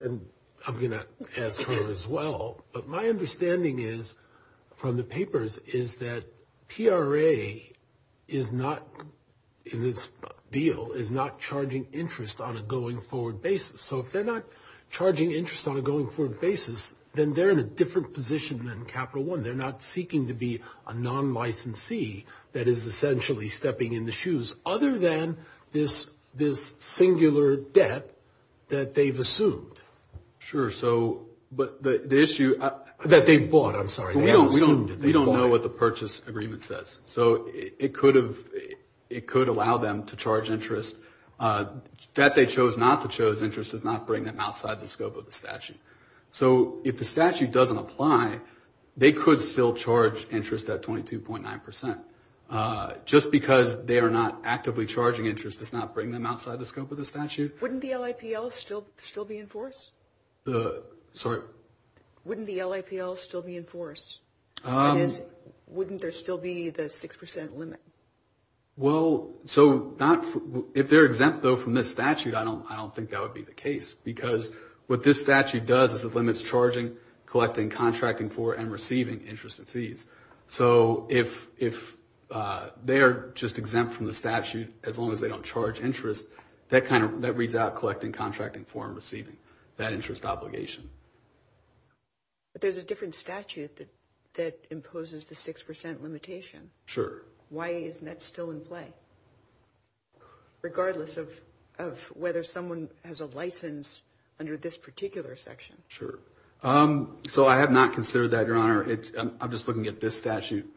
And I'm going to ask her as well, but my understanding is, from the papers, is that PRA is not in this deal, is not charging interest on a going forward basis. So if they're not charging interest on a going forward basis, then they're in a different position than Capital One. They're not seeking to be a non-licensee that is essentially stepping in the shoes, other than this singular debt that they've assumed. Sure, so, but the issue... That they've bought, I'm sorry. We don't know what the purchase agreement says. So it could allow them to charge interest. Debt they chose not to chose interest does not bring them outside the scope of the statute. So if the statute doesn't apply, they could still charge interest at 22.9%. Just because they are not actively charging interest does not bring them outside the scope of the statute. Wouldn't the LAPL still be in force? Sorry? Wouldn't the LAPL still be in force? Wouldn't there still be the 6% limit? Well, so if they're exempt, though, from this statute, I don't think that would be the case. Because what this statute does is it limits charging, collecting, contracting for, and receiving interest and fees. So if they are just exempt from the statute, as long as they don't charge interest, that reads out collecting, contracting for, and receiving. That interest obligation. But there's a different statute that imposes the 6% limitation. Sure. Why isn't that still in play? Regardless of whether someone has a license under this particular section. Sure. So I have not considered that, Your Honor. I'm just looking at this statute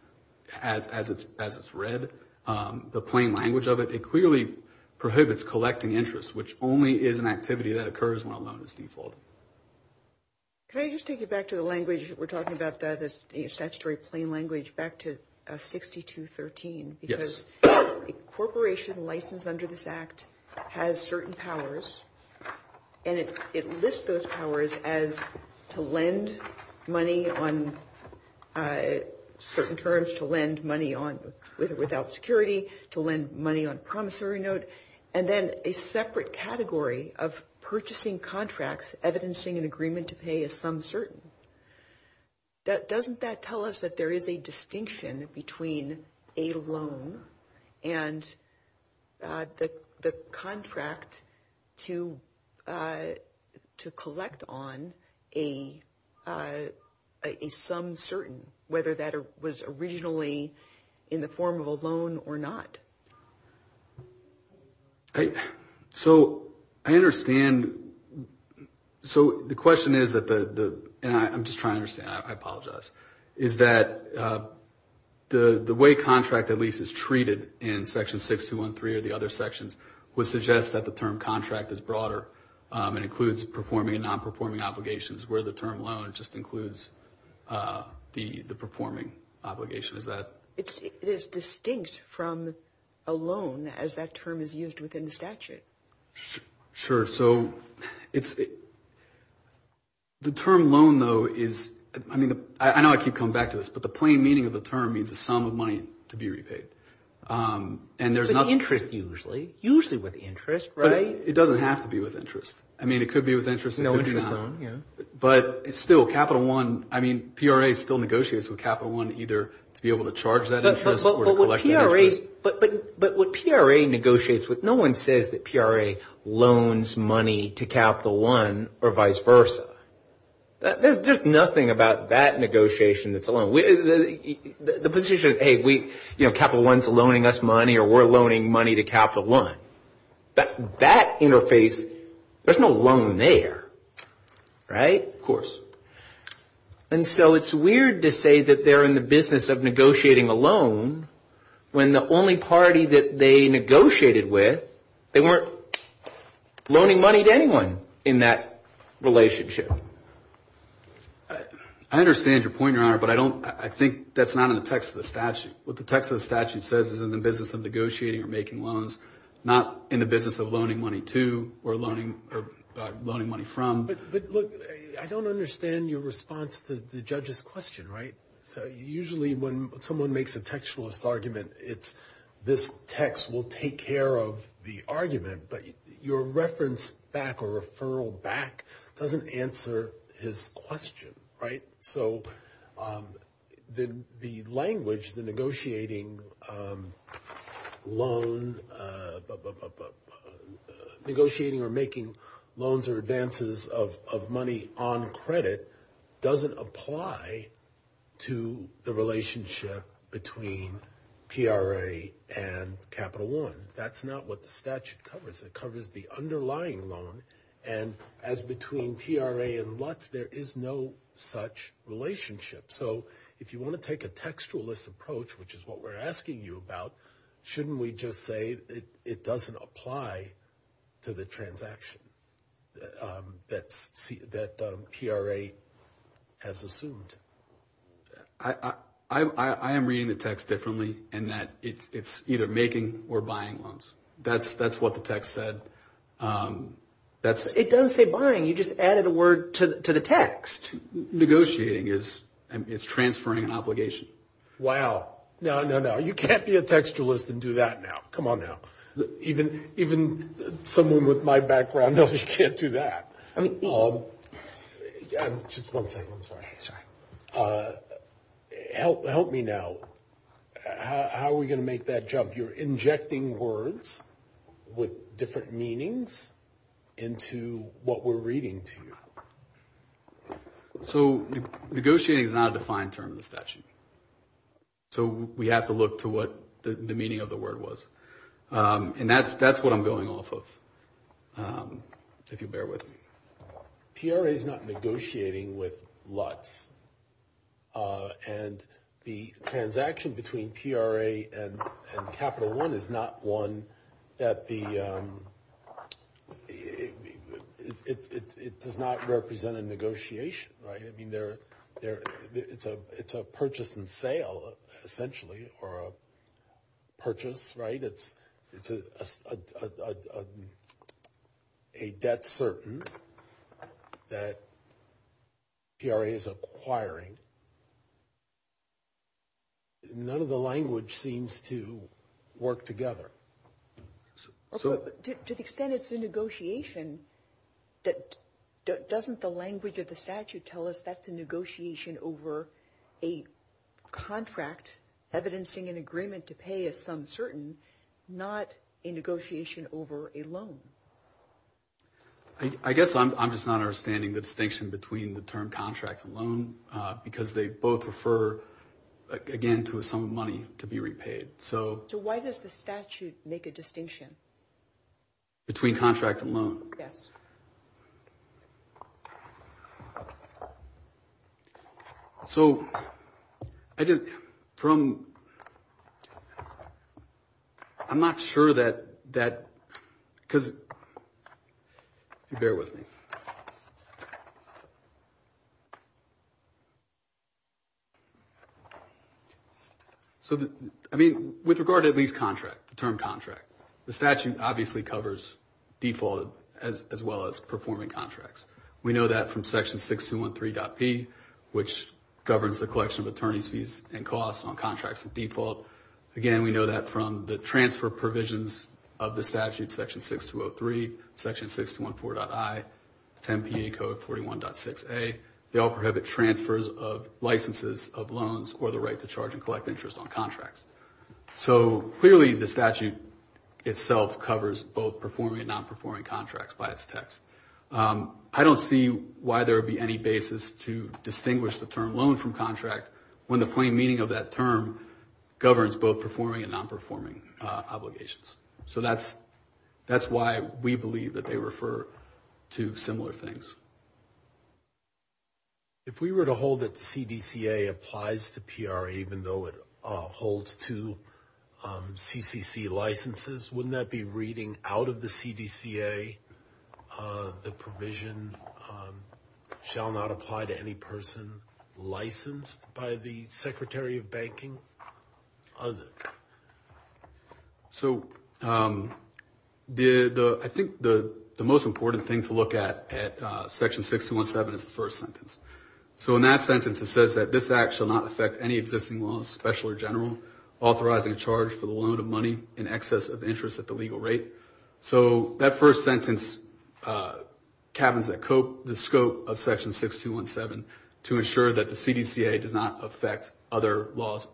as it's read. The plain language of it, it clearly prohibits collecting interest, which only is an activity that occurs when a loan is defaulted. Can I just take you back to the language we're talking about, the statutory plain language, back to 6213? Yes. Because a corporation licensed under this Act has certain powers, and it lists those powers as to lend money on certain terms, to lend money without security, to lend money on promissory note, and then a separate category of purchasing contracts, evidencing an agreement to pay a sum certain. Doesn't that tell us that there is a distinction between a loan and the contract to collect on a sum certain, whether that was originally in the form of a loan or not? So I understand, so the question is, and I'm just trying to understand, I apologize, is that the way contract at least is treated in Section 6213 or the other sections would suggest that the term contract is broader and includes performing and non-performing obligations, where the term loan just includes the performing obligation, is that? It is distinct from a loan as that term is used within the statute. Sure. So the term loan, though, is, I mean, I know I keep coming back to this, but the plain meaning of the term means a sum of money to be repaid. With interest, usually. Usually with interest, right? It doesn't have to be with interest. I mean, it could be with interest, it could be not. No interest loan, yeah. But still, Capital One, I mean, PRA still negotiates with Capital One either to be able to charge that interest or to collect that interest. But what PRA negotiates with, no one says that PRA loans money to Capital One or vice versa. There's nothing about that negotiation that's a loan. The position, hey, Capital One's loaning us money or we're loaning money to Capital One. That interface, there's no loan there, right? Of course. And so it's weird to say that they're in the business of negotiating a loan when the only party that they negotiated with, they weren't loaning money to anyone in that relationship. I understand your point, Your Honor, but I think that's not in the text of the statute. What the text of the statute says is in the business of negotiating or making loans, not in the business of loaning money to or loaning money from. But, look, I don't understand your response to the judge's question, right? Usually when someone makes a textualist argument, it's this text will take care of the argument. But your reference back or referral back doesn't answer his question, right? So the language, the negotiating loan, negotiating or making loans or advances of money on credit doesn't apply to the relationship between PRA and Capital One. That's not what the statute covers. It covers the underlying loan. And as between PRA and Lutz, there is no such relationship. So if you want to take a textualist approach, which is what we're asking you about, shouldn't we just say it doesn't apply to the transaction that PRA has assumed? I am reading the text differently in that it's either making or buying loans. That's what the text said. It doesn't say buying. You just added a word to the text. Negotiating is transferring an obligation. Wow. No, no, no. You can't be a textualist and do that now. Come on now. Even someone with my background knows you can't do that. Just one second. I'm sorry. Help me now. How are we going to make that jump? You're injecting words with different meanings into what we're reading to you. So negotiating is not a defined term in the statute. So we have to look to what the meaning of the word was. And that's what I'm going off of, if you'll bear with me. PRA is not negotiating with Lutz. And the transaction between PRA and Capital One is not one that the – it does not represent a negotiation. I mean, it's a purchase and sale, essentially, or a purchase. It's a debt certain that PRA is acquiring. None of the language seems to work together. To the extent it's a negotiation, doesn't the language of the statute tell us that's a negotiation over a contract, evidencing an agreement to pay a sum certain, not a negotiation over a loan? I guess I'm just not understanding the distinction between the term contract and loan, because they both refer, again, to a sum of money to be repaid. So why does the statute make a distinction? Between contract and loan? Yes. So I just – from – I'm not sure that that – because – bear with me. So, I mean, with regard to lease contract, the term contract, the statute obviously covers default as well as performing contracts. We know that from Section 6213.p, which governs the collection of attorney's fees and costs on contracts of default. Again, we know that from the transfer provisions of the statute, Section 6203, Section 6214.i, 10 PA Code 41.6a. They all prohibit transfers of licenses of loans or the right to charge and collect interest on contracts. So, clearly, the statute itself covers both performing and non-performing contracts by its text. I don't see why there would be any basis to distinguish the term loan from contract when the plain meaning of that term governs both performing and non-performing obligations. So that's why we believe that they refer to similar things. If we were to hold that the CDCA applies to PRE even though it holds to CCC licenses, wouldn't that be reading out of the CDCA the provision shall not apply to any person licensed by the Secretary of Banking? So I think the most important thing to look at at Section 6217 is the first sentence. So in that sentence, it says that this act shall not affect any existing law, special or general, authorizing a charge for the loan of money in excess of interest at the legal rate. So that first sentence cabins the scope of Section 6217 to ensure that the CDCA does not affect other laws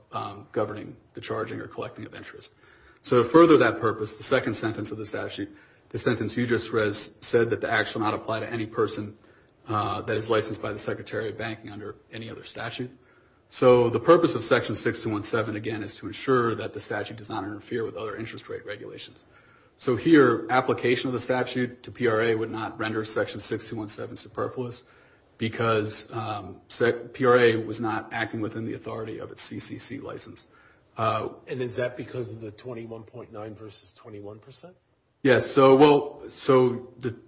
governing the charging or collecting of interest. So to further that purpose, the second sentence of the statute, the sentence you just read, said that the act shall not apply to any person that is licensed by the Secretary of Banking under any other statute. So the purpose of Section 6217, again, is to ensure that the statute does not interfere with other interest rate regulations. So here, application of the statute to PRE would not render Section 6217 superfluous because PRE was not acting within the authority of its CCC license. And is that because of the 21.9% versus 21%? Yes, so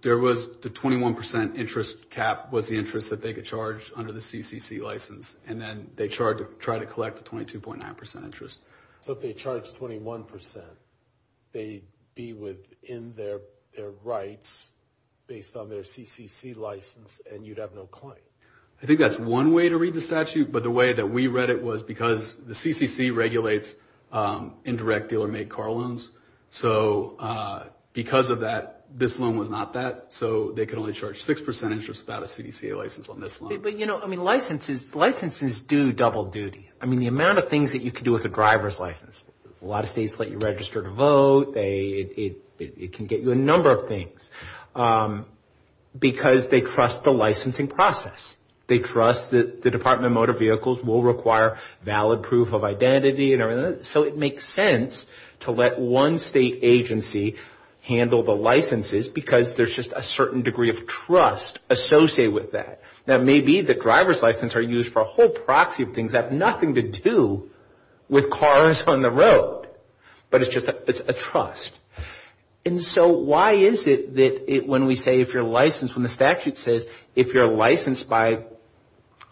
there was the 21% interest cap was the interest that they could charge under the CCC license, and then they tried to collect the 22.9% interest. So if they charged 21%, they'd be within their rights based on their CCC license, and you'd have no claim? I think that's one way to read the statute, but the way that we read it was because the CCC regulates indirect dealer-made car loans. So because of that, this loan was not that, so they could only charge 6% interest without a CDCA license on this loan. But, you know, I mean, licenses do double duty. I mean, the amount of things that you can do with a driver's license, a lot of states let you register to vote. It can get you a number of things because they trust the licensing process. They trust that the Department of Motor Vehicles will require valid proof of identity and everything. So it makes sense to let one state agency handle the licenses because there's just a certain degree of trust associated with that. It may be that driver's licenses are used for a whole proxy of things that have nothing to do with cars on the road, but it's just a trust. And so why is it that when we say if you're licensed, when the statute says if you're licensed by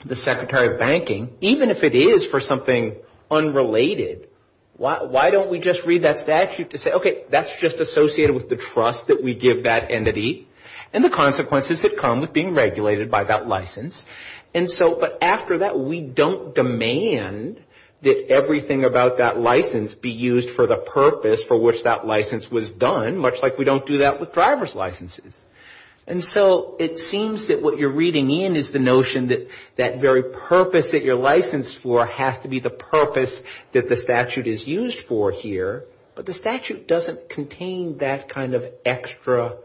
the Secretary of Banking, even if it is for something unrelated, why don't we just read that statute to say, okay, that's just associated with the trust that we give that entity, and the consequences that come with being regulated by that license. And so, but after that, we don't demand that everything about that license be used for the purpose for which that license was done, much like we don't do that with driver's licenses. And so it seems that what you're reading in is the notion that that very purpose that you're licensed for has to be the purpose that the statute is used for here, but the statute doesn't contain that kind of extra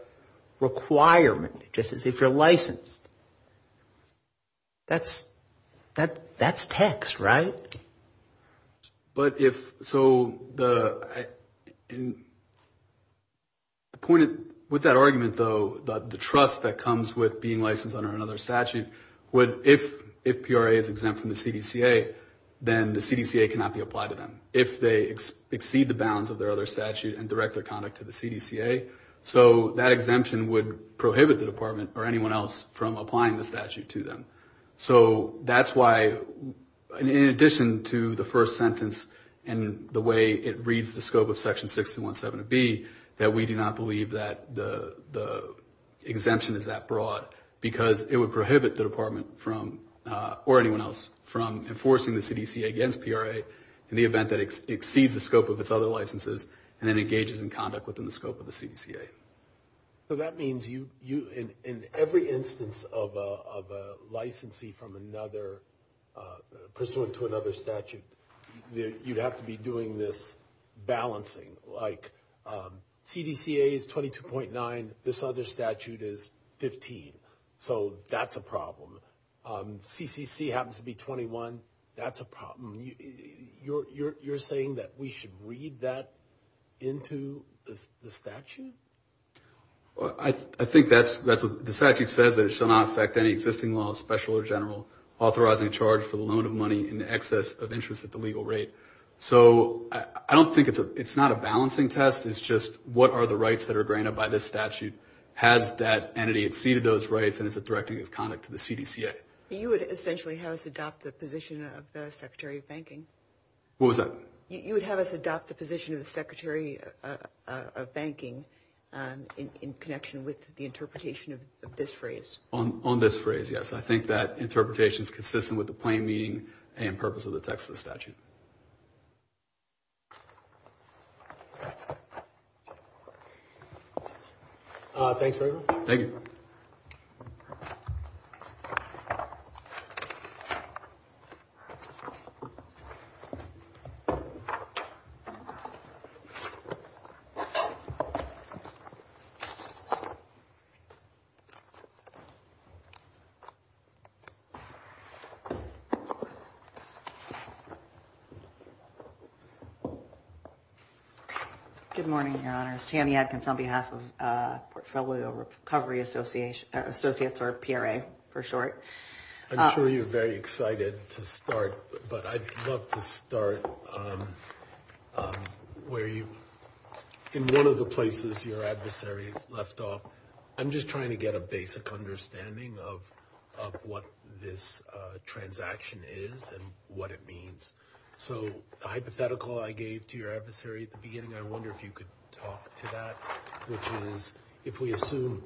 requirement, just as if you're licensed. That's text, right? But if, so the point, with that argument, though, the trust that comes with being licensed under another statute, if PRA is exempt from the CDCA, then the CDCA cannot be applied to them. If they exceed the bounds of their other statute and direct their conduct to the CDCA. So that exemption would prohibit the department or anyone else from applying the statute to them. So that's why, in addition to the first sentence and the way it reads the scope of section 617 of B, that we do not believe that the exemption is that broad, because it would prohibit the department from, or anyone else, from enforcing the CDCA against PRA in the event that it was not applied to them. It would prohibit the department from enforcing a statute that exceeds the scope of its other licenses and engages in conduct within the scope of the CDCA. So that means you, in every instance of a licensee from another, pursuant to another statute, you'd have to be doing this balancing, like CDCA is 22.9, this other statute is 15. So you're saying that we should read that into the statute? I think that's what the statute says, that it shall not affect any existing law, special or general, authorizing a charge for the loan of money in excess of interest at the legal rate. So I don't think it's a, it's not a balancing test, it's just what are the rights that are granted by this statute. Has that entity exceeded those rights and is it directing its conduct to the CDCA? You would essentially have us adopt the position of the Secretary of Banking. What was that? You would have us adopt the position of the Secretary of Banking in connection with the interpretation of this phrase. On this phrase, yes. I think that interpretation is consistent with the plain meaning and purpose of the Texas statute. Thanks very much. Thank you. Good morning, Your Honors. Tammy Adkins on behalf of Portfolio Recovery Associates, or PRA for short. I'm sure you're very excited to start, but I'd love to start where you, in one of the places your adversary left off, I'm just trying to get a basic understanding of what this transaction is and what it means. So the hypothetical I gave to your adversary at the beginning, I wonder if you could talk to that. Which is, if we assume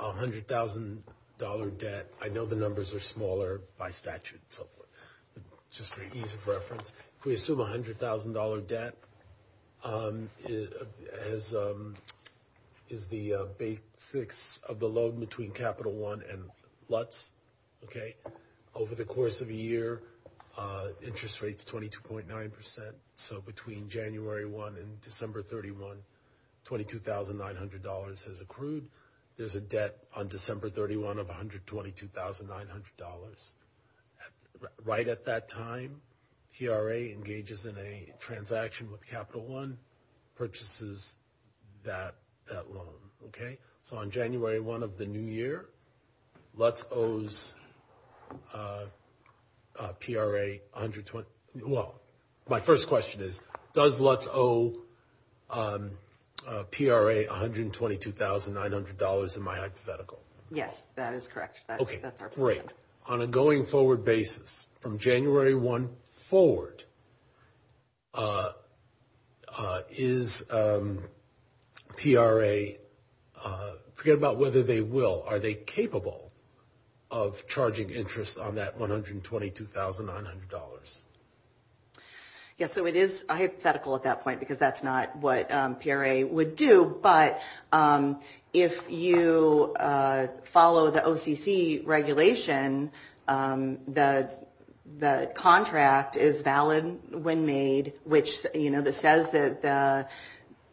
$100,000 debt, I know the numbers are smaller by statute and so forth, just for ease of reference. If we assume $100,000 debt, is the basics of the loan between Capital One and Lutz, okay? For the course of a year, interest rates 22.9%, so between January 1 and December 31, $22,900 has accrued. There's a debt on December 31 of $122,900. Right at that time, PRA engages in a transaction with Capital One, purchases that loan, okay? So on January 1 of the new year, Lutz owes PRA $122,900. Well, my first question is, does Lutz owe PRA $122,900 in my hypothetical? Yes, that is correct. Okay, great. On a going forward basis, from January 1 forward, is PRA $122,900? Forget about whether they will, are they capable of charging interest on that $122,900? Yes, so it is hypothetical at that point, because that's not what PRA would do. But if you follow the OCC regulation, the contract is valid when made, which says that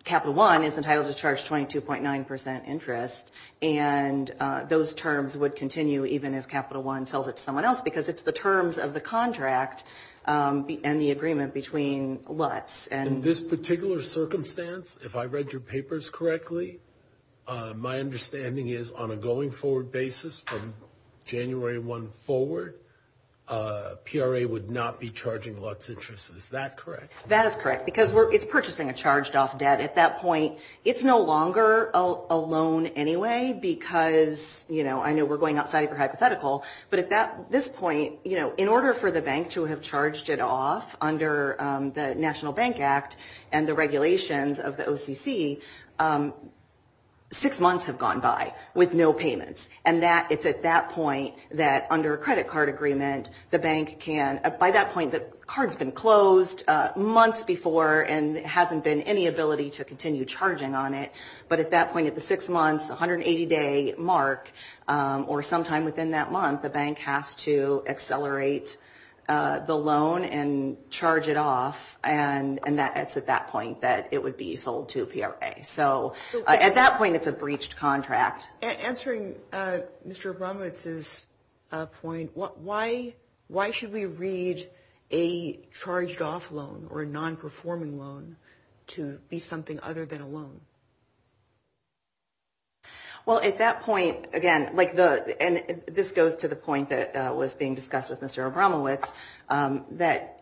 Capital One is entitled to charge 22.9% interest. And those terms would continue even if Capital One sells it to someone else, because it's the terms of the contract and the agreement between Lutz. In this particular circumstance, if I read your papers correctly, my understanding is on a going forward basis, from January 1 forward, PRA would not be charging Lutz interest. Is that correct? That is correct, because it's purchasing a charged-off debt. At that point, it's no longer a loan anyway, because I know we're going outside of your hypothetical. But at this point, in order for the bank to have charged it off under the National Bank Act and the regulations of the OCC, six months have gone by with no payments. And it's at that point that under a credit card agreement, the bank can... It's been six months before, and there hasn't been any ability to continue charging on it. But at that point, at the six months, 180-day mark, or sometime within that month, the bank has to accelerate the loan and charge it off. And it's at that point that it would be sold to PRA. So at that point, it's a breached contract. Answering Mr. Abramowitz's point, why should we read a charged-off loan or a non-performing loan to be something other than a loan? Well, at that point, again, and this goes to the point that was being discussed with Mr. Abramowitz, that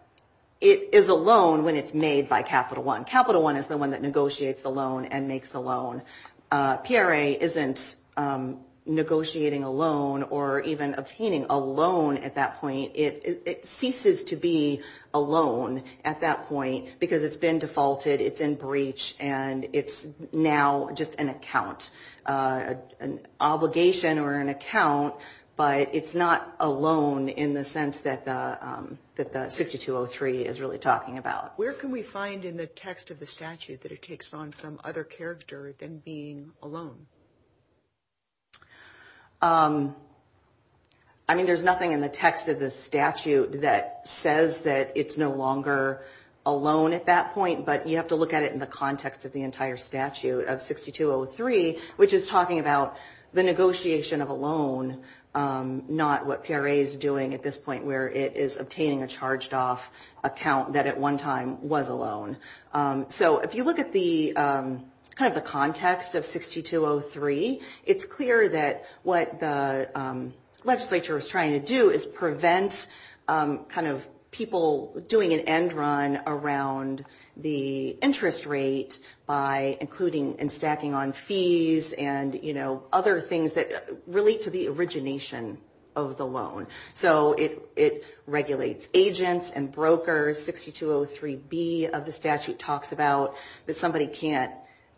it is a loan when it's made by Capital One. Capital One is the one that negotiates the loan and makes the loan. PRA isn't negotiating a loan or even obtaining a loan at that point. It ceases to be a loan at that point because it's been defaulted, it's in breach, and it's now just an account, an obligation or an account. But it's not a loan in the sense that the 6203 is really talking about. Where can we find in the text of the statute that it takes on some other character than being a loan? I mean, there's nothing in the text of the statute that says that it's no longer a loan at that point. But you have to look at it in the context of the entire statute of 6203, which is talking about the negotiation of a loan, not what PRA is doing at this point where it is obtaining a charged off account that at one time was a loan. So if you look at the kind of the context of 6203, it's clear that what the legislature is trying to do is prevent kind of people doing an end run around the interest rate by including and stacking on fees and, you know, other things that relate to the original interest rate. So it regulates agents and brokers. 6203B of the statute talks about that somebody can't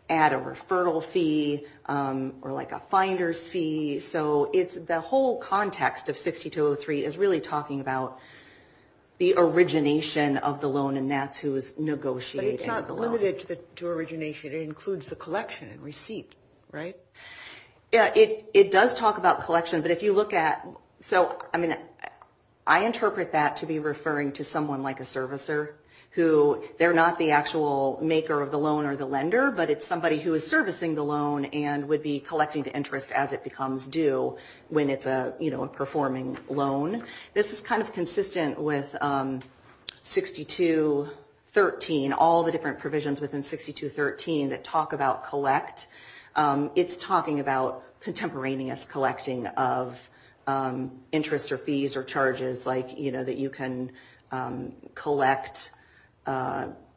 add a referral fee or like a finder's fee. So it's the whole context of 6203 is really talking about the origination of the loan and that's who is negotiating the loan. But it's not limited to origination. It includes the collection and receipt, right? Yeah, it does talk about collection. But if you look at, so, I mean, I interpret that to be referring to someone like a servicer who they're not the actual maker of the loan or the lender, but it's somebody who is servicing the loan and would be collecting the interest as it becomes due when it's a, you know, a performing loan. This is kind of consistent with 6213, all the different provisions within 6213 that talk about collect. It's talking about contemporaneous collecting of interest or fees or charges like, you know, that you can collect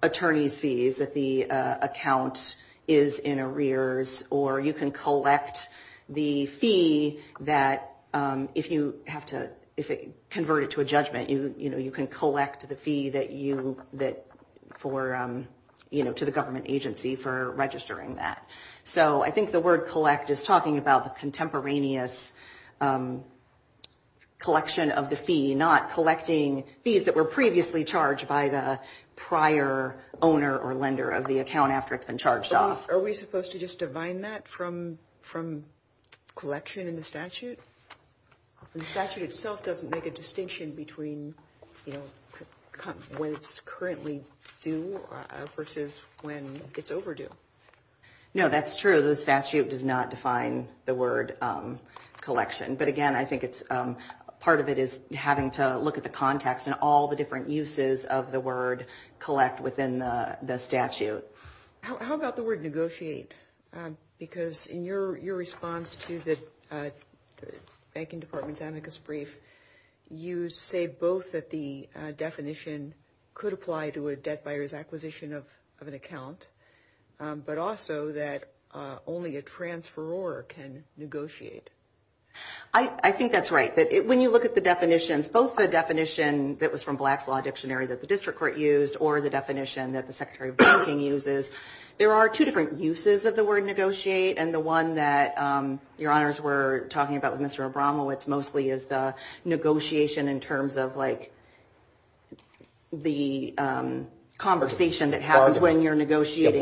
attorney's fees that the account is in arrears or you can collect the fee that if you have to, if it converted to a judgment, you know, you can collect the fee that you, that for, you know, to the government agency for registering that. So I think the word collect is talking about the contemporaneous collection of the fee, not collecting fees that were previously charged by the prior owner or lender of the account after it's been charged off. Are we supposed to just divine that from collection in the statute? The statute itself doesn't make a distinction between, you know, when it's currently due versus when it's overdue. No, that's true. The statute does not define the word collection. But again, I think it's, part of it is having to look at the context and all the different uses of the word collect within the statute. How about the word negotiate? Because in your response to the banking department's amicus brief, you say both that the definition could apply to a debt buyer's acquisition of an account. But also that only a transferor can negotiate. I think that's right. When you look at the definitions, both the definition that was from Black's Law Dictionary that the district court used or the definition that the secretary of banking uses, there are two different uses of the word negotiate. And the one that your honors were talking about with Mr. Abramowitz mostly is the negotiation in terms of like the conversation that happens when you're negotiating.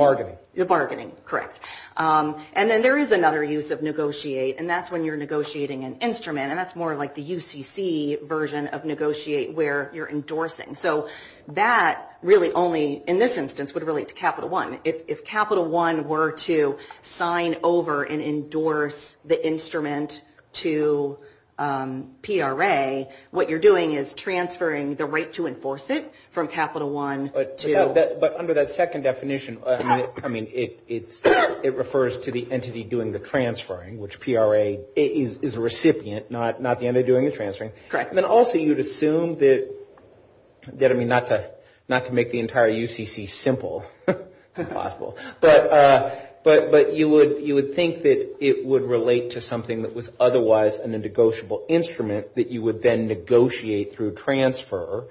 The bargaining, correct. And then there is another use of negotiate, and that's when you're negotiating an instrument. And that's more like the UCC version of negotiate where you're endorsing. So that really only, in this instance, would relate to Capital One. If Capital One were to sign over and endorse the instrument to PRA, what you're doing is transferring the right to enforce it from Capital One to... But under that second definition, it refers to the entity doing the transferring, which PRA is a recipient, not the entity doing the transferring. Then also you'd assume that, I mean not to make the entire UCC simple, it's impossible, but you would think that it would relate to something that was otherwise in a negotiable instrument that you would then negotiate through transfer.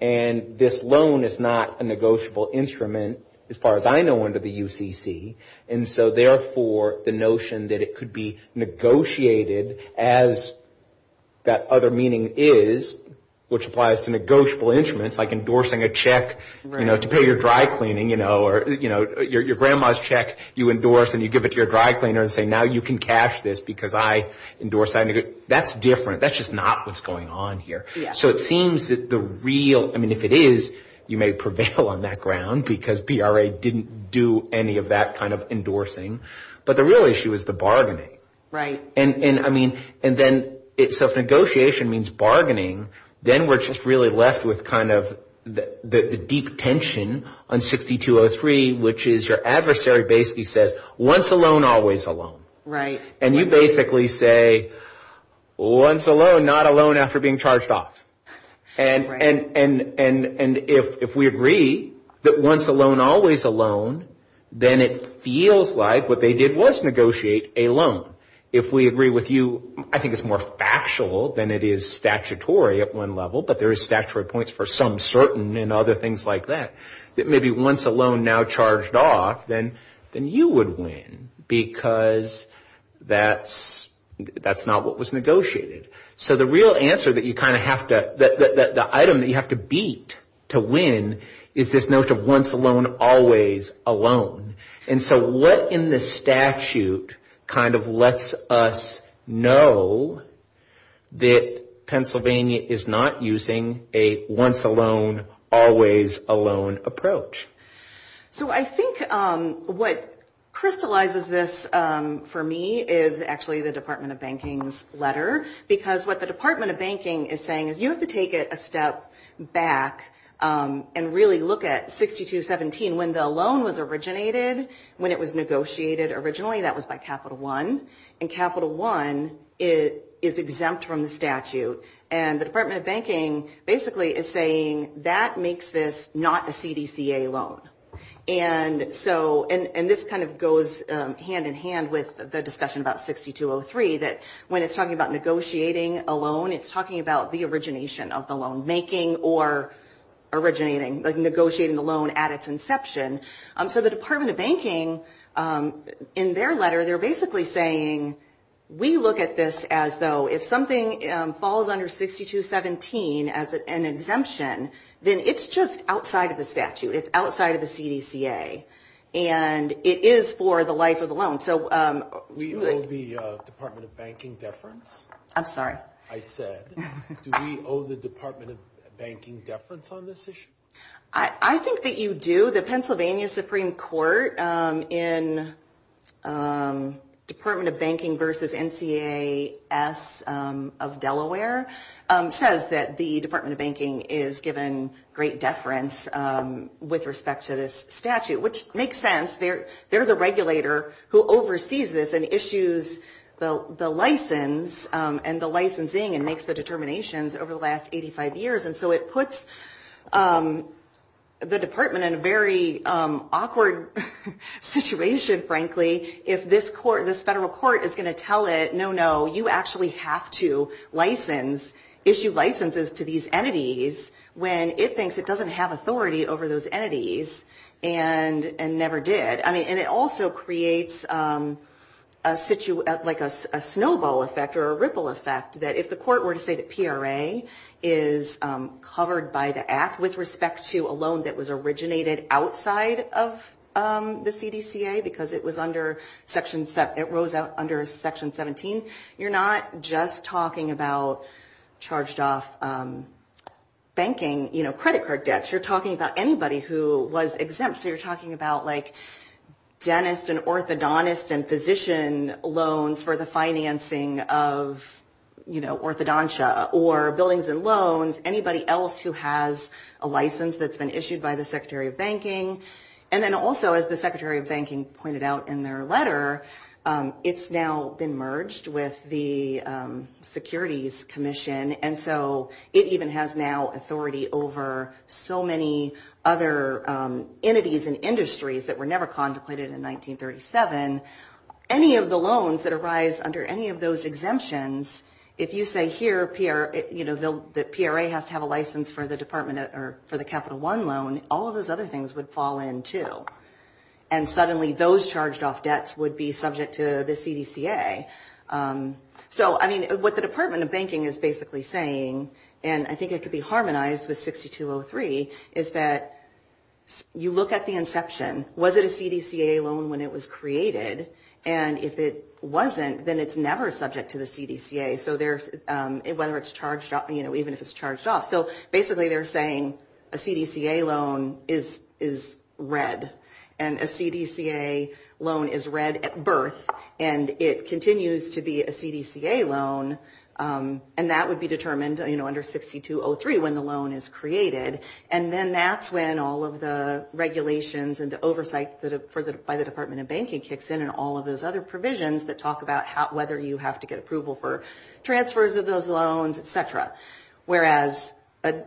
And this loan is not a negotiable instrument. As far as I know under the UCC, and so therefore the notion that it could be negotiated as that other meaning is, which applies to negotiable instruments, like endorsing a check, you know, to pay your dry cleaning, you know, or, you know, your grandma's check you endorse and you give it to your dry cleaner and say now you can cash this because I endorsed that, that's different, that's just not what's going on here. So it seems that the real, I mean if it is, you may prevail on that ground because PRA didn't do any of that kind of endorsing, but the real issue is the bargaining. And I mean, so if negotiation means bargaining, then we're just really left with kind of the deep tension on 6203, which is your adversary basically says once a loan, always a loan. And you basically say once a loan, not a loan after being charged off. And if we agree that once a loan, always a loan, then it feels like what they did was negotiate a loan. If we agree with you, I think it's more factual than it is statutory at one level, but there is statutory points for some certain and other things like that, that maybe once a loan now charged off, then you would win. Because that's not what was negotiated. So the real answer that you kind of have to, the item that you have to beat to win is this notion of once a loan, always a loan. And so what in the statute kind of lets us know that Pennsylvania is not using a once a loan, always a loan approach? So I think what crystallizes this for me is actually the Department of Banking's letter. Because what the Department of Banking is saying is you have to take it a step back and really look at 6217. When the loan was originated, when it was negotiated originally, that was by Capital One. And Capital One is exempt from the statute. And the Department of Banking basically is saying that makes this not a CDCA loan. And so, and this kind of goes hand in hand with the discussion about 6203, that when it's talking about negotiating a loan, it's talking about the origination of the loan. Making or originating, like negotiating the loan at its inception. So the Department of Banking, in their letter, they're basically saying, we look at this as though if something falls out of the statute, it's a loan. But if it falls under 6217 as an exemption, then it's just outside of the statute. It's outside of the CDCA. And it is for the life of the loan. We owe the Department of Banking deference. I'm sorry. I said, do we owe the Department of Banking deference on this issue? I think that you do. So the Pennsylvania Supreme Court in Department of Banking versus NCAS of Delaware says that the Department of Banking is given great deference with respect to this statute. Which makes sense. They're the regulator who oversees this and issues the license and the licensing and makes the determinations over the last 85 years. And so it puts the Department in a very awkward situation, frankly, if this federal court is going to tell it, no, no, you actually have to issue licenses to these entities, when it thinks it doesn't have authority over those entities and never did. And it also creates a snowball effect or a ripple effect that if the court were to say that PRA is not going to issue licenses to these entities, it's going to have a ripple effect. And so if you're talking about a loan that was covered by the Act with respect to a loan that was originated outside of the CDCA, because it was under Section 17, it rose out under Section 17, you're not just talking about charged off banking, you know, credit card debts, you're talking about anybody who was exempt. So you're talking about, like, dentist and orthodontist and physician loans for the financing of, you know, orthodontia or buildings and loans. You're talking about anybody else who has a license that's been issued by the Secretary of Banking. And then also, as the Secretary of Banking pointed out in their letter, it's now been merged with the Securities Commission. And so it even has now authority over so many other entities and industries that were never contemplated in 1937. Any of the loans that arise under any of those exemptions, if you say here, you know, the PRA has to have a license, you're not just talking about a loan that's been issued by the Secretary of Banking. If you say, you know, you have a license for the Department of, or for the Capital One loan, all of those other things would fall in, too. And suddenly, those charged off debts would be subject to the CDCA. So, I mean, what the Department of Banking is basically saying, and I think it could be harmonized with 6203, is that you look at the inception. Was it a CDCA loan when it was created? And if it wasn't, then it's never subject to the CDCA, whether it's charged off, you know, even if it's charged off. So basically, they're saying a CDCA loan is red, and a CDCA loan is red at birth, and it continues to be a CDCA loan, and that would be determined under 6203 when the loan is created. And then that's when all of the regulations and the oversight by the Department of Banking kicks in. And all of those other provisions that talk about whether you have to get approval for transfers of those loans, et cetera. Whereas a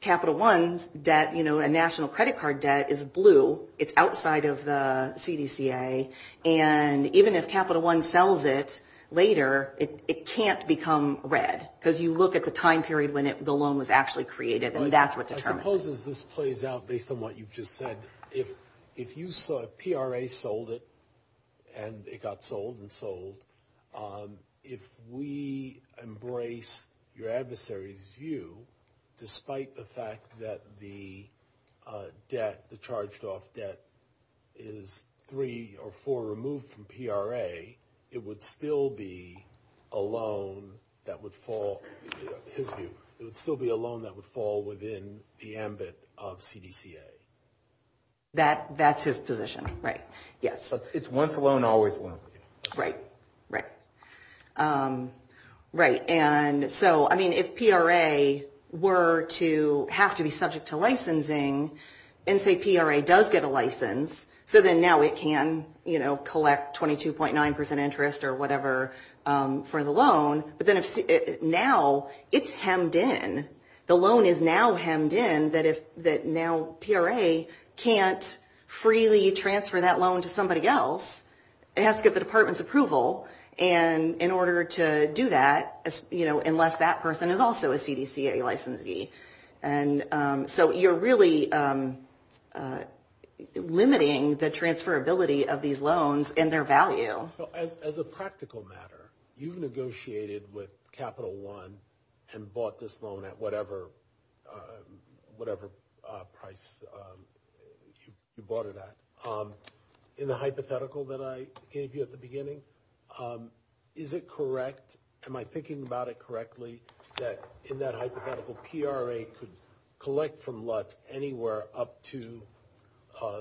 Capital One's debt, you know, a national credit card debt is blue, it's outside of the CDCA, and even if Capital One sells it later, it can't become red. Because you look at the time period when the loan was actually created, and that's what determines it. So I suppose as this plays out, based on what you've just said, if you saw, if PRA sold it, and it got sold and sold, if we embrace your adversary's view, despite the fact that the debt, the charged off debt is three or four removed from PRA, it would still be a loan that would fall, his view, it would still be a loan that would fall within the amount of the loan. Right, right. And so, I mean, if PRA were to have to be subject to licensing, and say PRA does get a license, so then now it can, you know, collect 22.9% interest or whatever for the loan, but then now it's hemmed in. The loan is now hemmed in that if, that now PRA can't freely transfer that loan to somebody else, it has to get the department's approval, and in order to do that, you know, unless that person is also a CDCA licensee. And so you're really limiting the transferability of these loans and their value. As a practical matter, you've negotiated with Capital One and bought this loan at what? Whatever price you bought it at. In the hypothetical that I gave you at the beginning, is it correct, am I thinking about it correctly, that in that hypothetical, PRA could collect from Lutz anywhere up to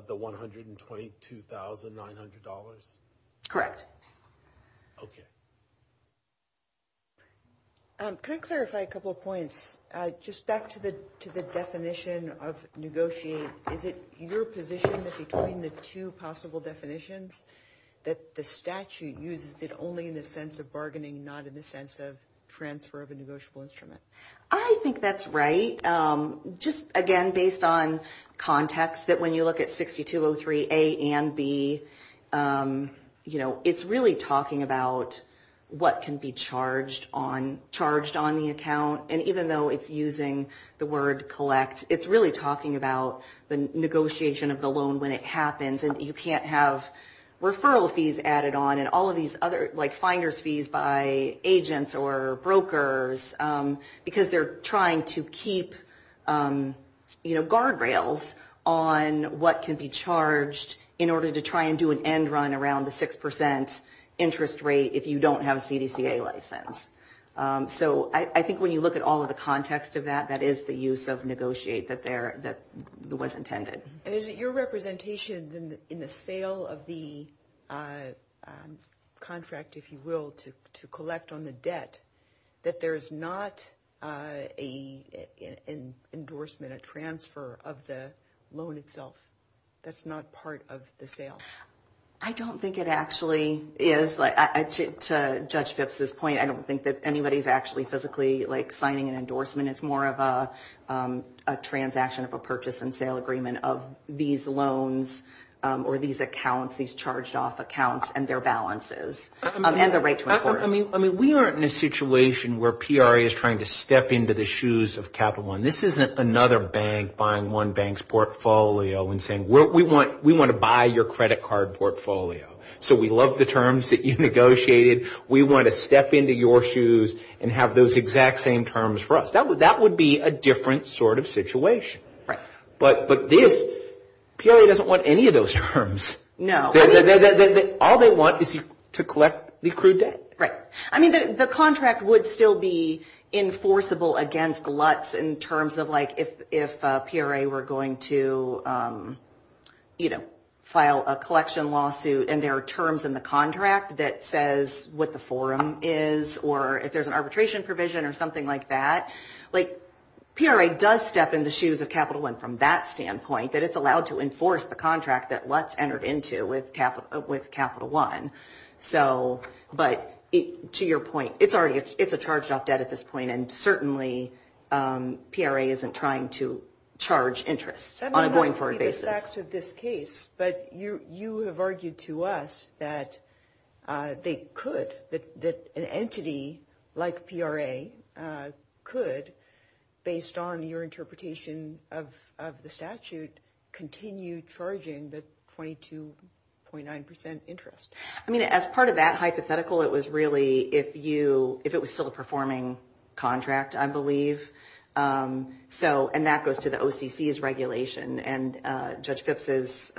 the $122,900? Correct. Okay. Can I clarify a couple of points? Just back to the definition of negotiate, is it your position that between the two possible definitions that the statute uses it only in the sense of bargaining, not in the sense of transfer of a negotiable instrument? I think that's right. Just again, based on context, that when you look at 6203A and B, you know, it's really talking about what can be charged on the account. And even though it's using the word collect, it's really talking about the negotiation of the loan when it happens. And you can't have referral fees added on and all of these other, like finder's fees by agents or brokers, because they're trying to keep, you know, the amount of money that's being transferred. And there's no guardrails on what can be charged in order to try and do an end run around the 6% interest rate if you don't have a CDCA license. So I think when you look at all of the context of that, that is the use of negotiate that was intended. And is it your representation in the sale of the contract, if you will, to collect on the debt, that there's not an endorsement, a transfer of the loan itself? That's not part of the sale? I don't think it actually is. To Judge Phipps's point, I don't think that anybody's actually physically, like, signing an endorsement. It's more of a transaction of a purchase and sale agreement of these loans or these accounts, these charged off accounts and their balances and the right to enforce. I mean, we aren't in a situation where PRA is trying to step into the shoes of Capital One. This isn't another bank buying one bank's portfolio and saying, we want to buy your credit card portfolio. So we love the terms that you negotiated, we want to step into your shoes and have those exact same terms for us. That would be a different sort of situation. But PRA doesn't want any of those terms. All they want is to collect the accrued debt. Right. I mean, the contract would still be enforceable against LUTs in terms of, like, if PRA were going to, you know, file a collection lawsuit and there are terms in the contract that says what the forum is or if there's an arbitration provision or something like that. Like, PRA does step in the shoes of Capital One from that standpoint, that it's allowed to enforce the contract that LUTs entered into with Capital One. So, but to your point, it's already, it's a charged off debt at this point and certainly PRA isn't trying to charge interest on a going forward basis. That might not be the fact of this case, but you have argued to us that they could, that an entity like PRA could, you know, have a go at it based on your interpretation of the statute, continue charging the 22.9 percent interest. I mean, as part of that hypothetical, it was really if you, if it was still a performing contract, I believe. So, and that goes to the OCC's regulation and Judge Phipps'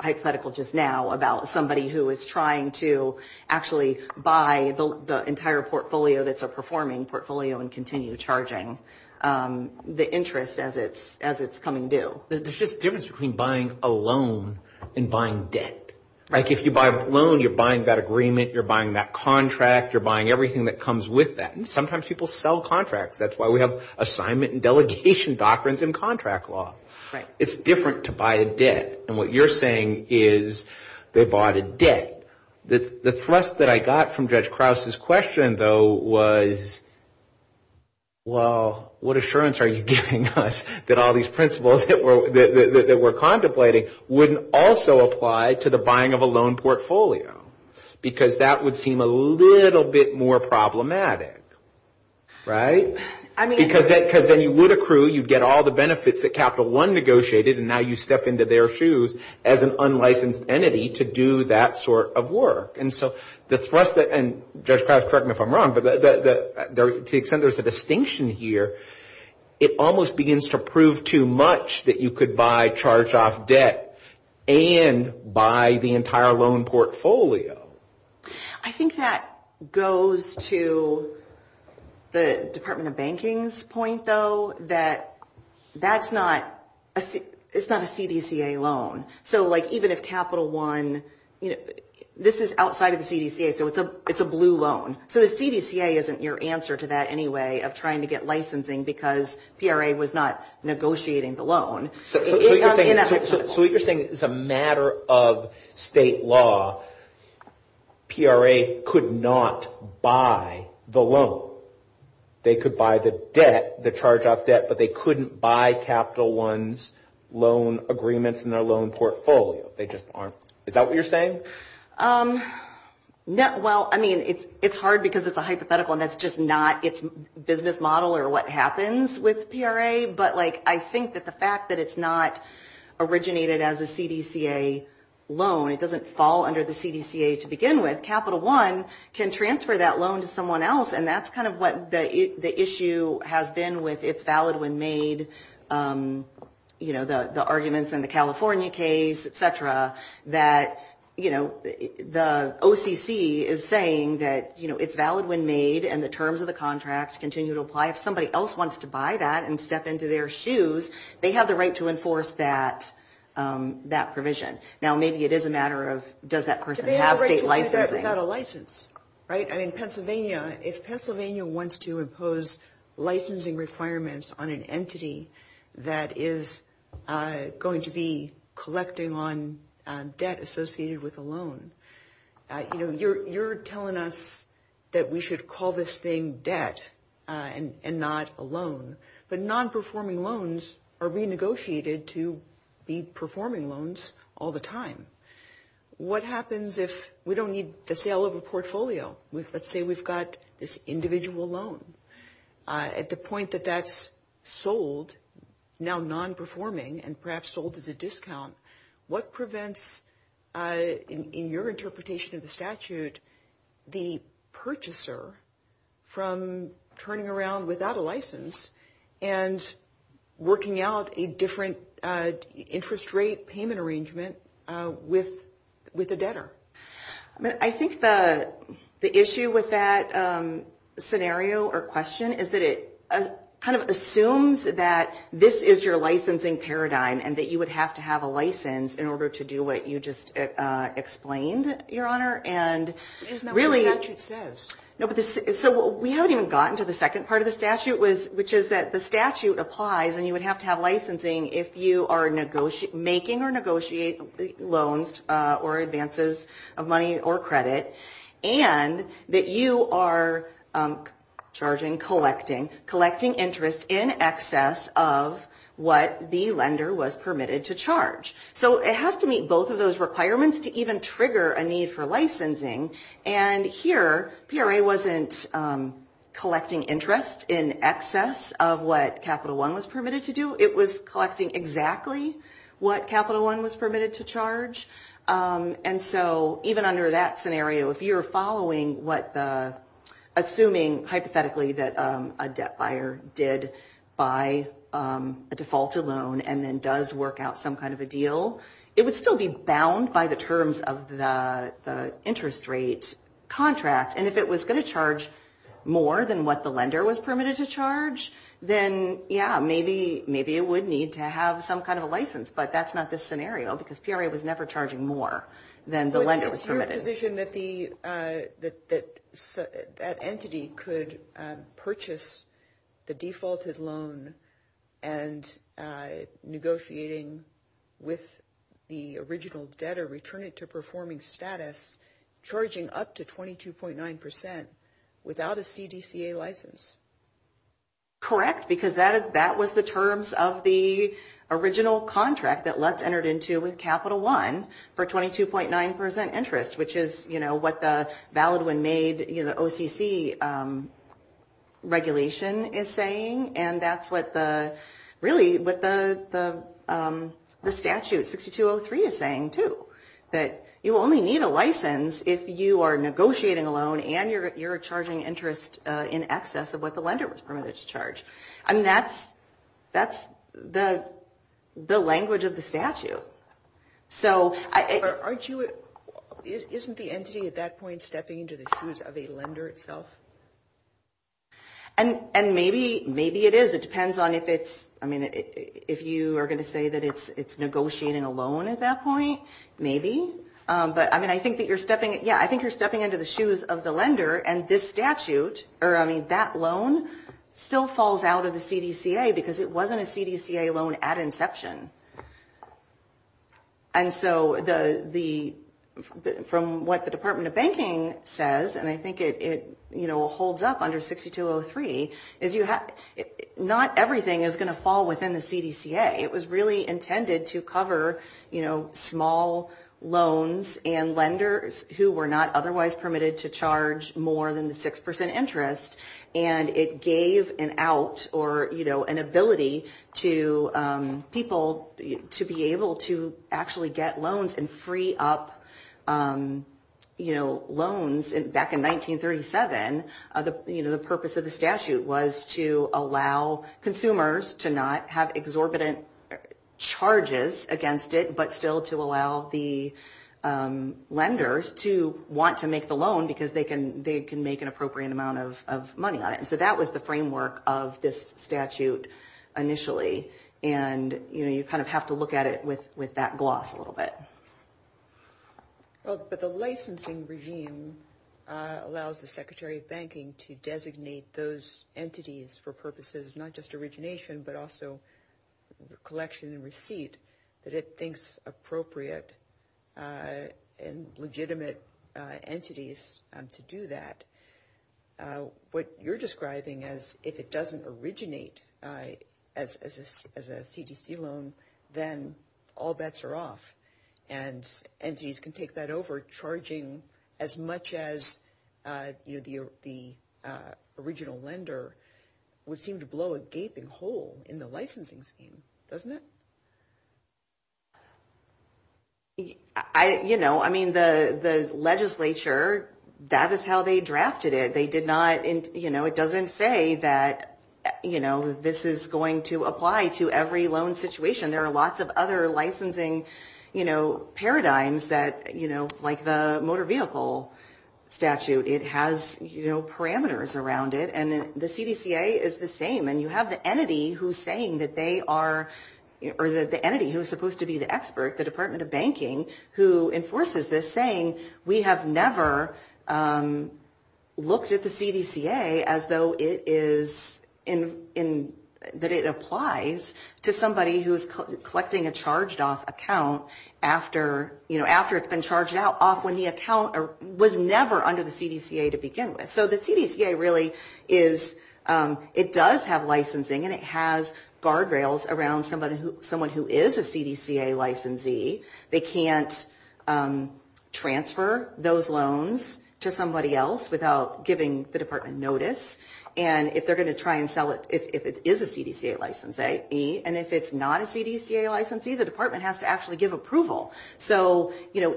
hypothetical just now about somebody who is trying to actually buy the entire portfolio that's a performing portfolio and continue charging the interest as it's coming due. There's just a difference between buying a loan and buying debt. Like, if you buy a loan, you're buying that agreement, you're buying that contract, you're buying everything that comes with that. And sometimes people sell contracts. That's why we have assignment and delegation doctrines in contract law. It's different to buy a debt. And what you're saying is they bought a debt. The thrust that I got from Judge Krause's question, though, was, well, what assurance are you giving us that all these principles that we're contemplating wouldn't also apply to the buying of a loan portfolio? Because that would seem a little bit more problematic, right? Because then you would accrue, you'd get all the benefits that Capital One negotiated and now you step into their shoes as an unlicensed entity to do that sort of work. And Judge Krause, correct me if I'm wrong, but to the extent there's a distinction here, it almost begins to prove too much that you could buy charge-off debt and buy the entire loan portfolio. I think that goes to the Department of Banking's point, though, that that's not a CDCA loan. So even if Capital One, this is outside of the CDCA, so it's a blue loan. So the CDCA isn't your answer to that anyway of trying to get licensing because PRA was not negotiating the loan. So what you're saying is it's a matter of state law. PRA could not buy the loan. They could buy the debt, the charge-off debt, but they couldn't buy Capital One's loan agreements and their loan portfolio. Is that what you're saying? Well, I mean, it's hard because it's a hypothetical and that's just not its business model or what happens with PRA. But I think that the fact that it's not originated as a CDCA loan, it doesn't fall under the CDCA. To begin with, Capital One can transfer that loan to someone else. And that's kind of what the issue has been with it's valid when made, the arguments in the California case, et cetera, that the OCC is saying that it's valid when made and the terms of the contract continue to apply. If somebody else wants to buy that and step into their shoes, they have the right to enforce that provision. Now, maybe it is a matter of does that person have state licensing? Right? I mean, Pennsylvania, if Pennsylvania wants to impose licensing requirements on an entity that is going to be collecting on debt associated with a loan, you're telling us that we should call this thing debt and not a loan. But non-performing loans are renegotiated to be performing loans also. That's what happens all the time. What happens if we don't need the sale of a portfolio? Let's say we've got this individual loan, at the point that that's sold, now non-performing and perhaps sold as a discount, what prevents, in your interpretation of the statute, the purchaser from turning around without a license and working out a different interest rate payment arrangement with a debtor? I mean, I think the issue with that scenario or question is that it kind of assumes that this is your licensing paradigm and that you would have to have a license in order to do what you just explained, Your Honor. And really... which is that the statute applies and you would have to have licensing if you are making or negotiating loans or advances of money or credit and that you are charging, collecting, collecting interest in excess of what the lender was permitted to charge. So it has to meet both of those requirements to even trigger a need for licensing, and here PRA wasn't collecting interest in excess of what Capital One was permitted to do, it was collecting exactly what Capital One was permitted to charge. And so even under that scenario, if you're following what the... assuming, hypothetically, that a debt buyer did buy a defaulted loan and then does work out some kind of a deal, it would still be bound by the terms of the interest rate contract. And if it was going to charge more than what the lender was permitted to charge, then, yeah, maybe it would need to have some kind of a license. But that's not the scenario, because PRA was never charging more than the lender was permitted. It's your position that that entity could purchase the defaulted loan and negotiating with the original debtor, and return it to performing status, charging up to 22.9% without a CDCA license. Correct, because that was the terms of the original contract that Lutz entered into with Capital One for 22.9% interest, which is, you know, what the Valid When Made, you know, OCC regulation is saying, and that's what the... really what the statute 6203 is saying, too. That you only need a license if you are negotiating a loan and you're charging interest in excess of what the lender was permitted to charge. I mean, that's the language of the statute. So... And maybe it is. It depends on if it's... I mean, if you are going to say that it's negotiating a loan at that point, maybe. But, I mean, I think that you're stepping... yeah, I think you're stepping into the shoes of the lender and this statute, or, I mean, that loan still falls out of the CDCA, because it wasn't a CDCA loan at inception. And so the... from what the Department of Banking says, and I think it, you know, holds up under 6203, is you have... not everything is going to fall within the CDCA. It was really intended to cover, you know, small loans and lenders who were not otherwise permitted to charge more than the 6% interest. And it gave an out, or, you know, an ability to people to be able to actually get loans and free up, you know, loans. Back in 1937, you know, the purpose of the statute was to allow consumers to not have exorbitant loans. It was not to allow charges against it, but still to allow the lenders to want to make the loan, because they can make an appropriate amount of money on it. And so that was the framework of this statute initially, and, you know, you kind of have to look at it with that gloss a little bit. Well, but the licensing regime allows the Secretary of Banking to designate those entities for purposes of not just origination, but also collection and receipt, that it thinks appropriate and legitimate entities to do that. What you're describing as if it doesn't originate as a CDC loan, then all bets are off. And entities can take that over, charging as much as, you know, the original lender would seem to blow a gaping hole. In the licensing scheme, doesn't it? I, you know, I mean, the legislature, that is how they drafted it. They did not, you know, it doesn't say that, you know, this is going to apply to every loan situation. There are lots of other licensing, you know, paradigms that, you know, like the motor vehicle statute, it has, you know, parameters around it. And the CDCA is the same, and you have the entity who's saying that they are, or the entity who's supposed to be the expert, the Department of Banking, who enforces this, saying, we have never looked at the CDCA as though it is, that it applies to somebody who's collecting a charged off account after, you know, after it's been charged off when the account was never under the CDCA to begin with. So the CDCA really is, it does have licensing, and it has guardrails around someone who is a CDCA licensee. They can't transfer those loans to somebody else without giving the department notice. And if they're going to try and sell it, if it is a CDCA licensee, and if it's not a CDCA licensee, the department has to actually give approval. So, you know,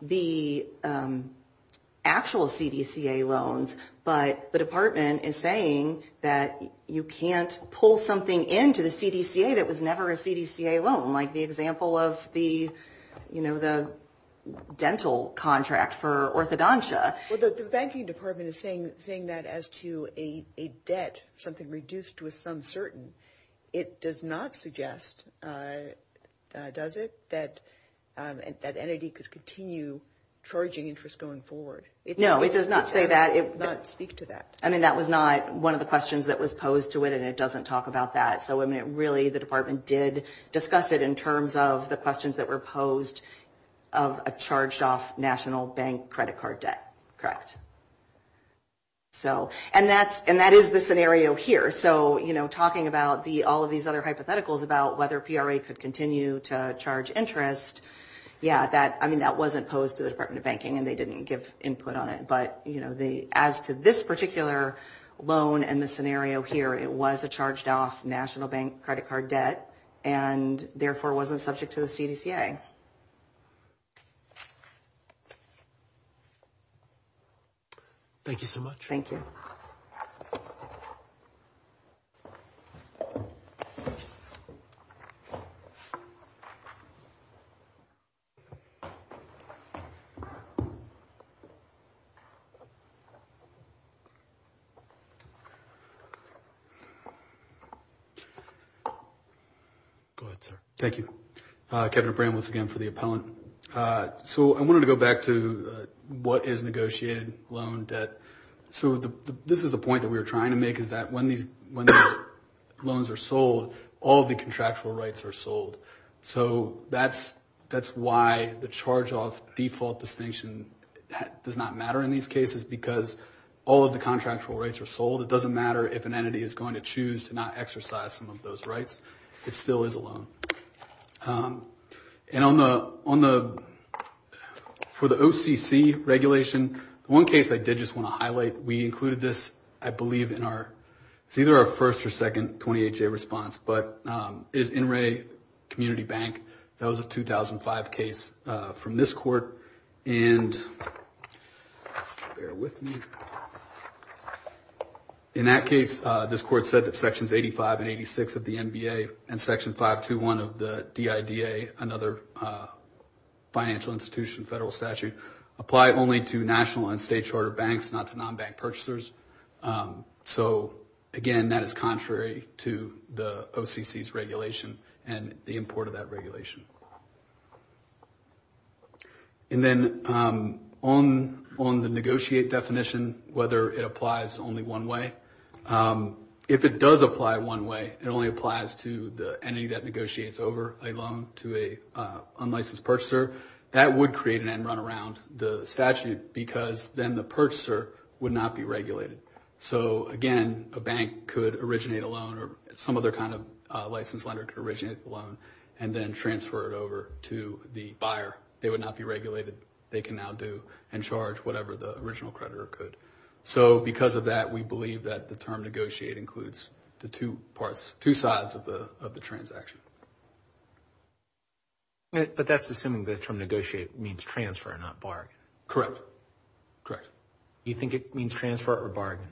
there are actual CDCA loans, but the department is saying that you can't pull something into the CDCA that was never a CDCA loan, like the example of the, you know, the dental contract for orthodontia. Well, the banking department is saying that as to a debt, something reduced with some certain, it does not suggest, does it, that that somebody could continue charging interest going forward. No, it does not say that. It does not speak to that. I mean, that was not one of the questions that was posed to it, and it doesn't talk about that. So, I mean, it really, the department did discuss it in terms of the questions that were posed of a charged off national bank credit card debt, correct. So, and that is the scenario here. So, you know, talking about all of these other hypotheticals about whether PRA could continue to charge interest, I mean, that wasn't posed to the Department of Banking, and they didn't give input on it. But, you know, as to this particular loan and the scenario here, it was a charged off national bank credit card debt, and therefore wasn't subject to the CDCA. Thank you so much. Go ahead, sir. Thank you. So I wanted to go back to what is negotiated loan debt. So this is the point that we were trying to make, is that when these loans are sold, all of the contractual rights are sold. So that's why the charged off national bank credit card debt is not subject to the CDCA. So the charge off default distinction does not matter in these cases, because all of the contractual rights are sold. It doesn't matter if an entity is going to choose to not exercise some of those rights. It still is a loan. And on the, for the OCC regulation, one case I did just want to highlight, we included this, I believe, in our, it's either our first or second 28-J response, but it's InRea Community Bank. That was a 2005 case from the OCC, and we included this in our response to this court. And bear with me. In that case, this court said that Sections 85 and 86 of the NBA and Section 521 of the DIDA, another financial institution, federal statute, apply only to national and state charter banks, not to non-bank purchasers. So again, that is contrary to the OCC's regulation and the import of that regulation. And then on the negotiate definition, whether it applies only one way. If it does apply one way, it only applies to the entity that negotiates over a loan to an unlicensed purchaser. That would create an end-run around the statute, because then the purchaser would not be regulated. So again, a bank could originate a loan or some other kind of license lender could originate a loan and then they would not be regulated. They can now do and charge whatever the original creditor could. So because of that, we believe that the term negotiate includes the two parts, two sides of the transaction. But that's assuming the term negotiate means transfer, not bargain. Correct. Correct. Do you think it means transfer or bargain?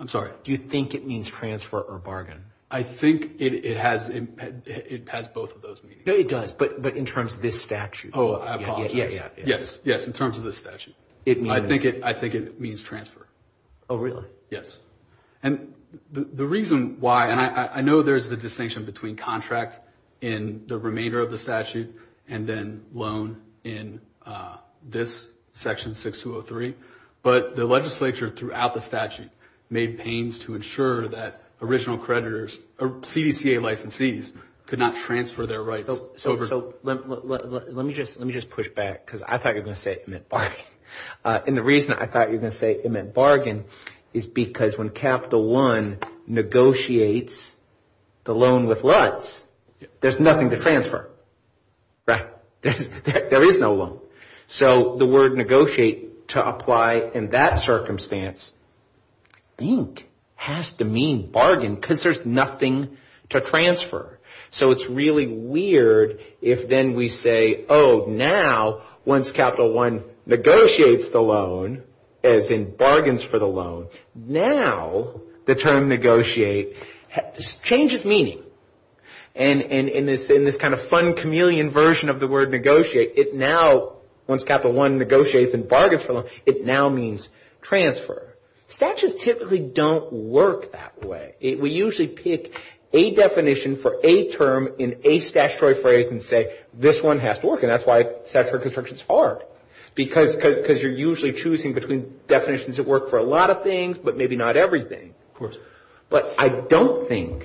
I'm sorry? Do you think it means transfer or bargain? I think it has both of those meanings. It does, but in terms of this statute. Oh, I apologize. Yes, yes, in terms of this statute. I think it means transfer. Oh, really? Yes. And the reason why, and I know there's the distinction between contract in the remainder of the statute and then loan in this statute, is because the original creditor made pains to ensure that original creditors, CDCA licensees, could not transfer their rights. So let me just push back, because I thought you were going to say it meant bargain. And the reason I thought you were going to say it meant bargain is because when Capital One negotiates the loan with Lutz, there's nothing to transfer, right? There is no loan. So the word negotiate to apply in that circumstance, I think, has to mean bargain, because there's nothing to transfer. So it's really weird if then we say, oh, now once Capital One negotiates the loan, as in bargains for the loan, now the term negotiate changes meaning. And in this kind of fun chameleon version of the word negotiate, it now, once Capital One negotiates and bargains for the loan, it now means transfer. Statutes typically don't work that way. We usually pick a definition for a term in a statutory phrase and say, this one has to work. And that's why statutory construction is hard, because you're usually choosing between definitions that work for a lot of people. But I don't think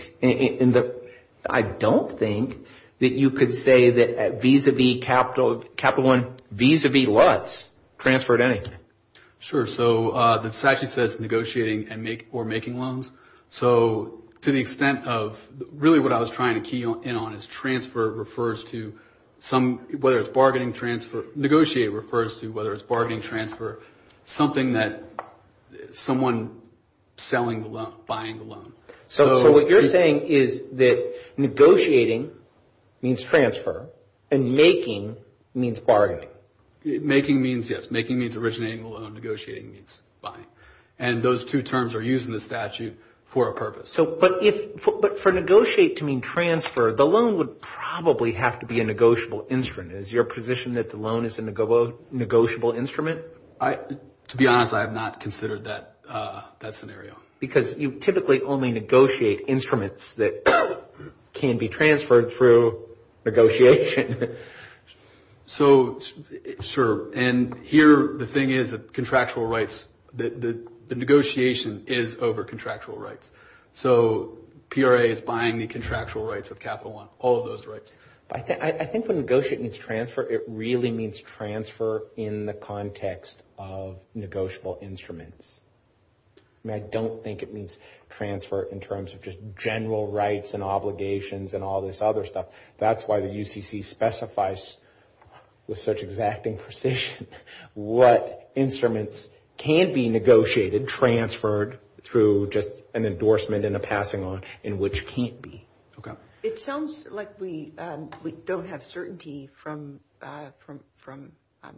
that you could say that vis-a-vis Capital One, vis-a-vis Lutz, transfer at anything. Sure. So the statute says negotiating or making loans. So to the extent of really what I was trying to key in on is transfer refers to some, whether it's bargaining transfer, negotiate refers to whether it's bargaining transfer, something that someone selling the loan, buying the loan. So what you're saying is that negotiating means transfer and making means bargaining. Making means, yes. Making means originating the loan. Negotiating means buying. And those two terms are used in the statute for a purpose. But for negotiate to mean transfer, the loan would probably have to be a negotiable instrument. Is your position that the loan is a negotiable instrument? To be honest, I have not considered that scenario. Because you typically only negotiate instruments that can be transferred through negotiation. So, sure. And here the thing is that contractual rights, the negotiation is over contractual rights. So PRA is buying the contractual rights of Capital One, all of those rights. I think when negotiate means transfer, it really means transfer in the context of negotiable instruments. I mean, I don't think it means transfer in terms of just general rights and obligations and all this other stuff. That's why the UCC specifies with such exacting precision what instruments can be negotiated, transferred through just an endorsement and a passing on in which can't be. It sounds like we don't have certainty from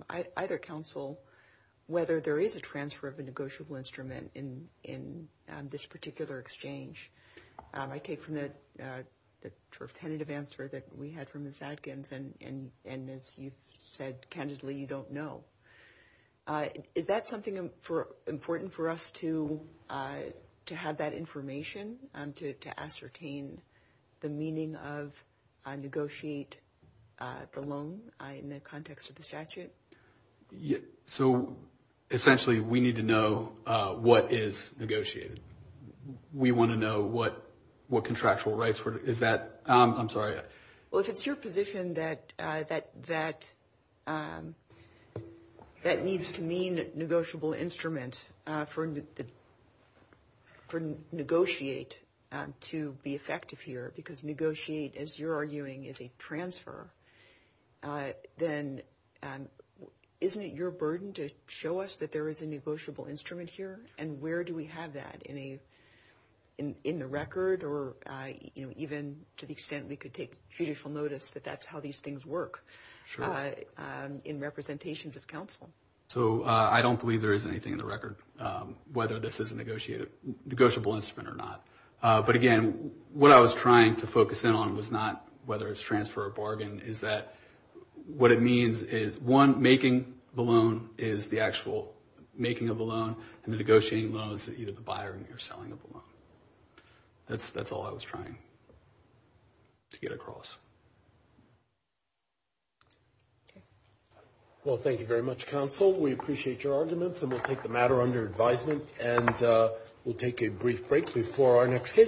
either council whether there is a transfer of a negotiable instrument in this particular exchange. I take from the sort of tentative answer that we had from Ms. Adkins. And as you said candidly, you don't know. Is that something important for us to have that information to ascertain? The meaning of negotiate the loan in the context of the statute? So essentially we need to know what is negotiated. We want to know what contractual rights, is that, I'm sorry. Well, if it's your position that needs to mean negotiable instrument for negotiate to be effective here, because negotiate, as you're arguing, is a transfer, isn't it your burden to show us that there is a negotiable instrument here and where do we have that in the record? Or even to the extent we could take judicial notice that that's how these things work in representations of council. So I don't believe there is anything in the record whether this is a negotiable instrument or not. But again, what I was trying to focus in on was not whether it's transfer or bargain, is that what it means is one, making the loan is the actual making of the loan, and the negotiating loan is either the buyer or selling of the loan. That's all I was trying to get across. Well, thank you very much, counsel. We appreciate your arguments and we'll take the matter under advisement and we'll take a brief break before our next case.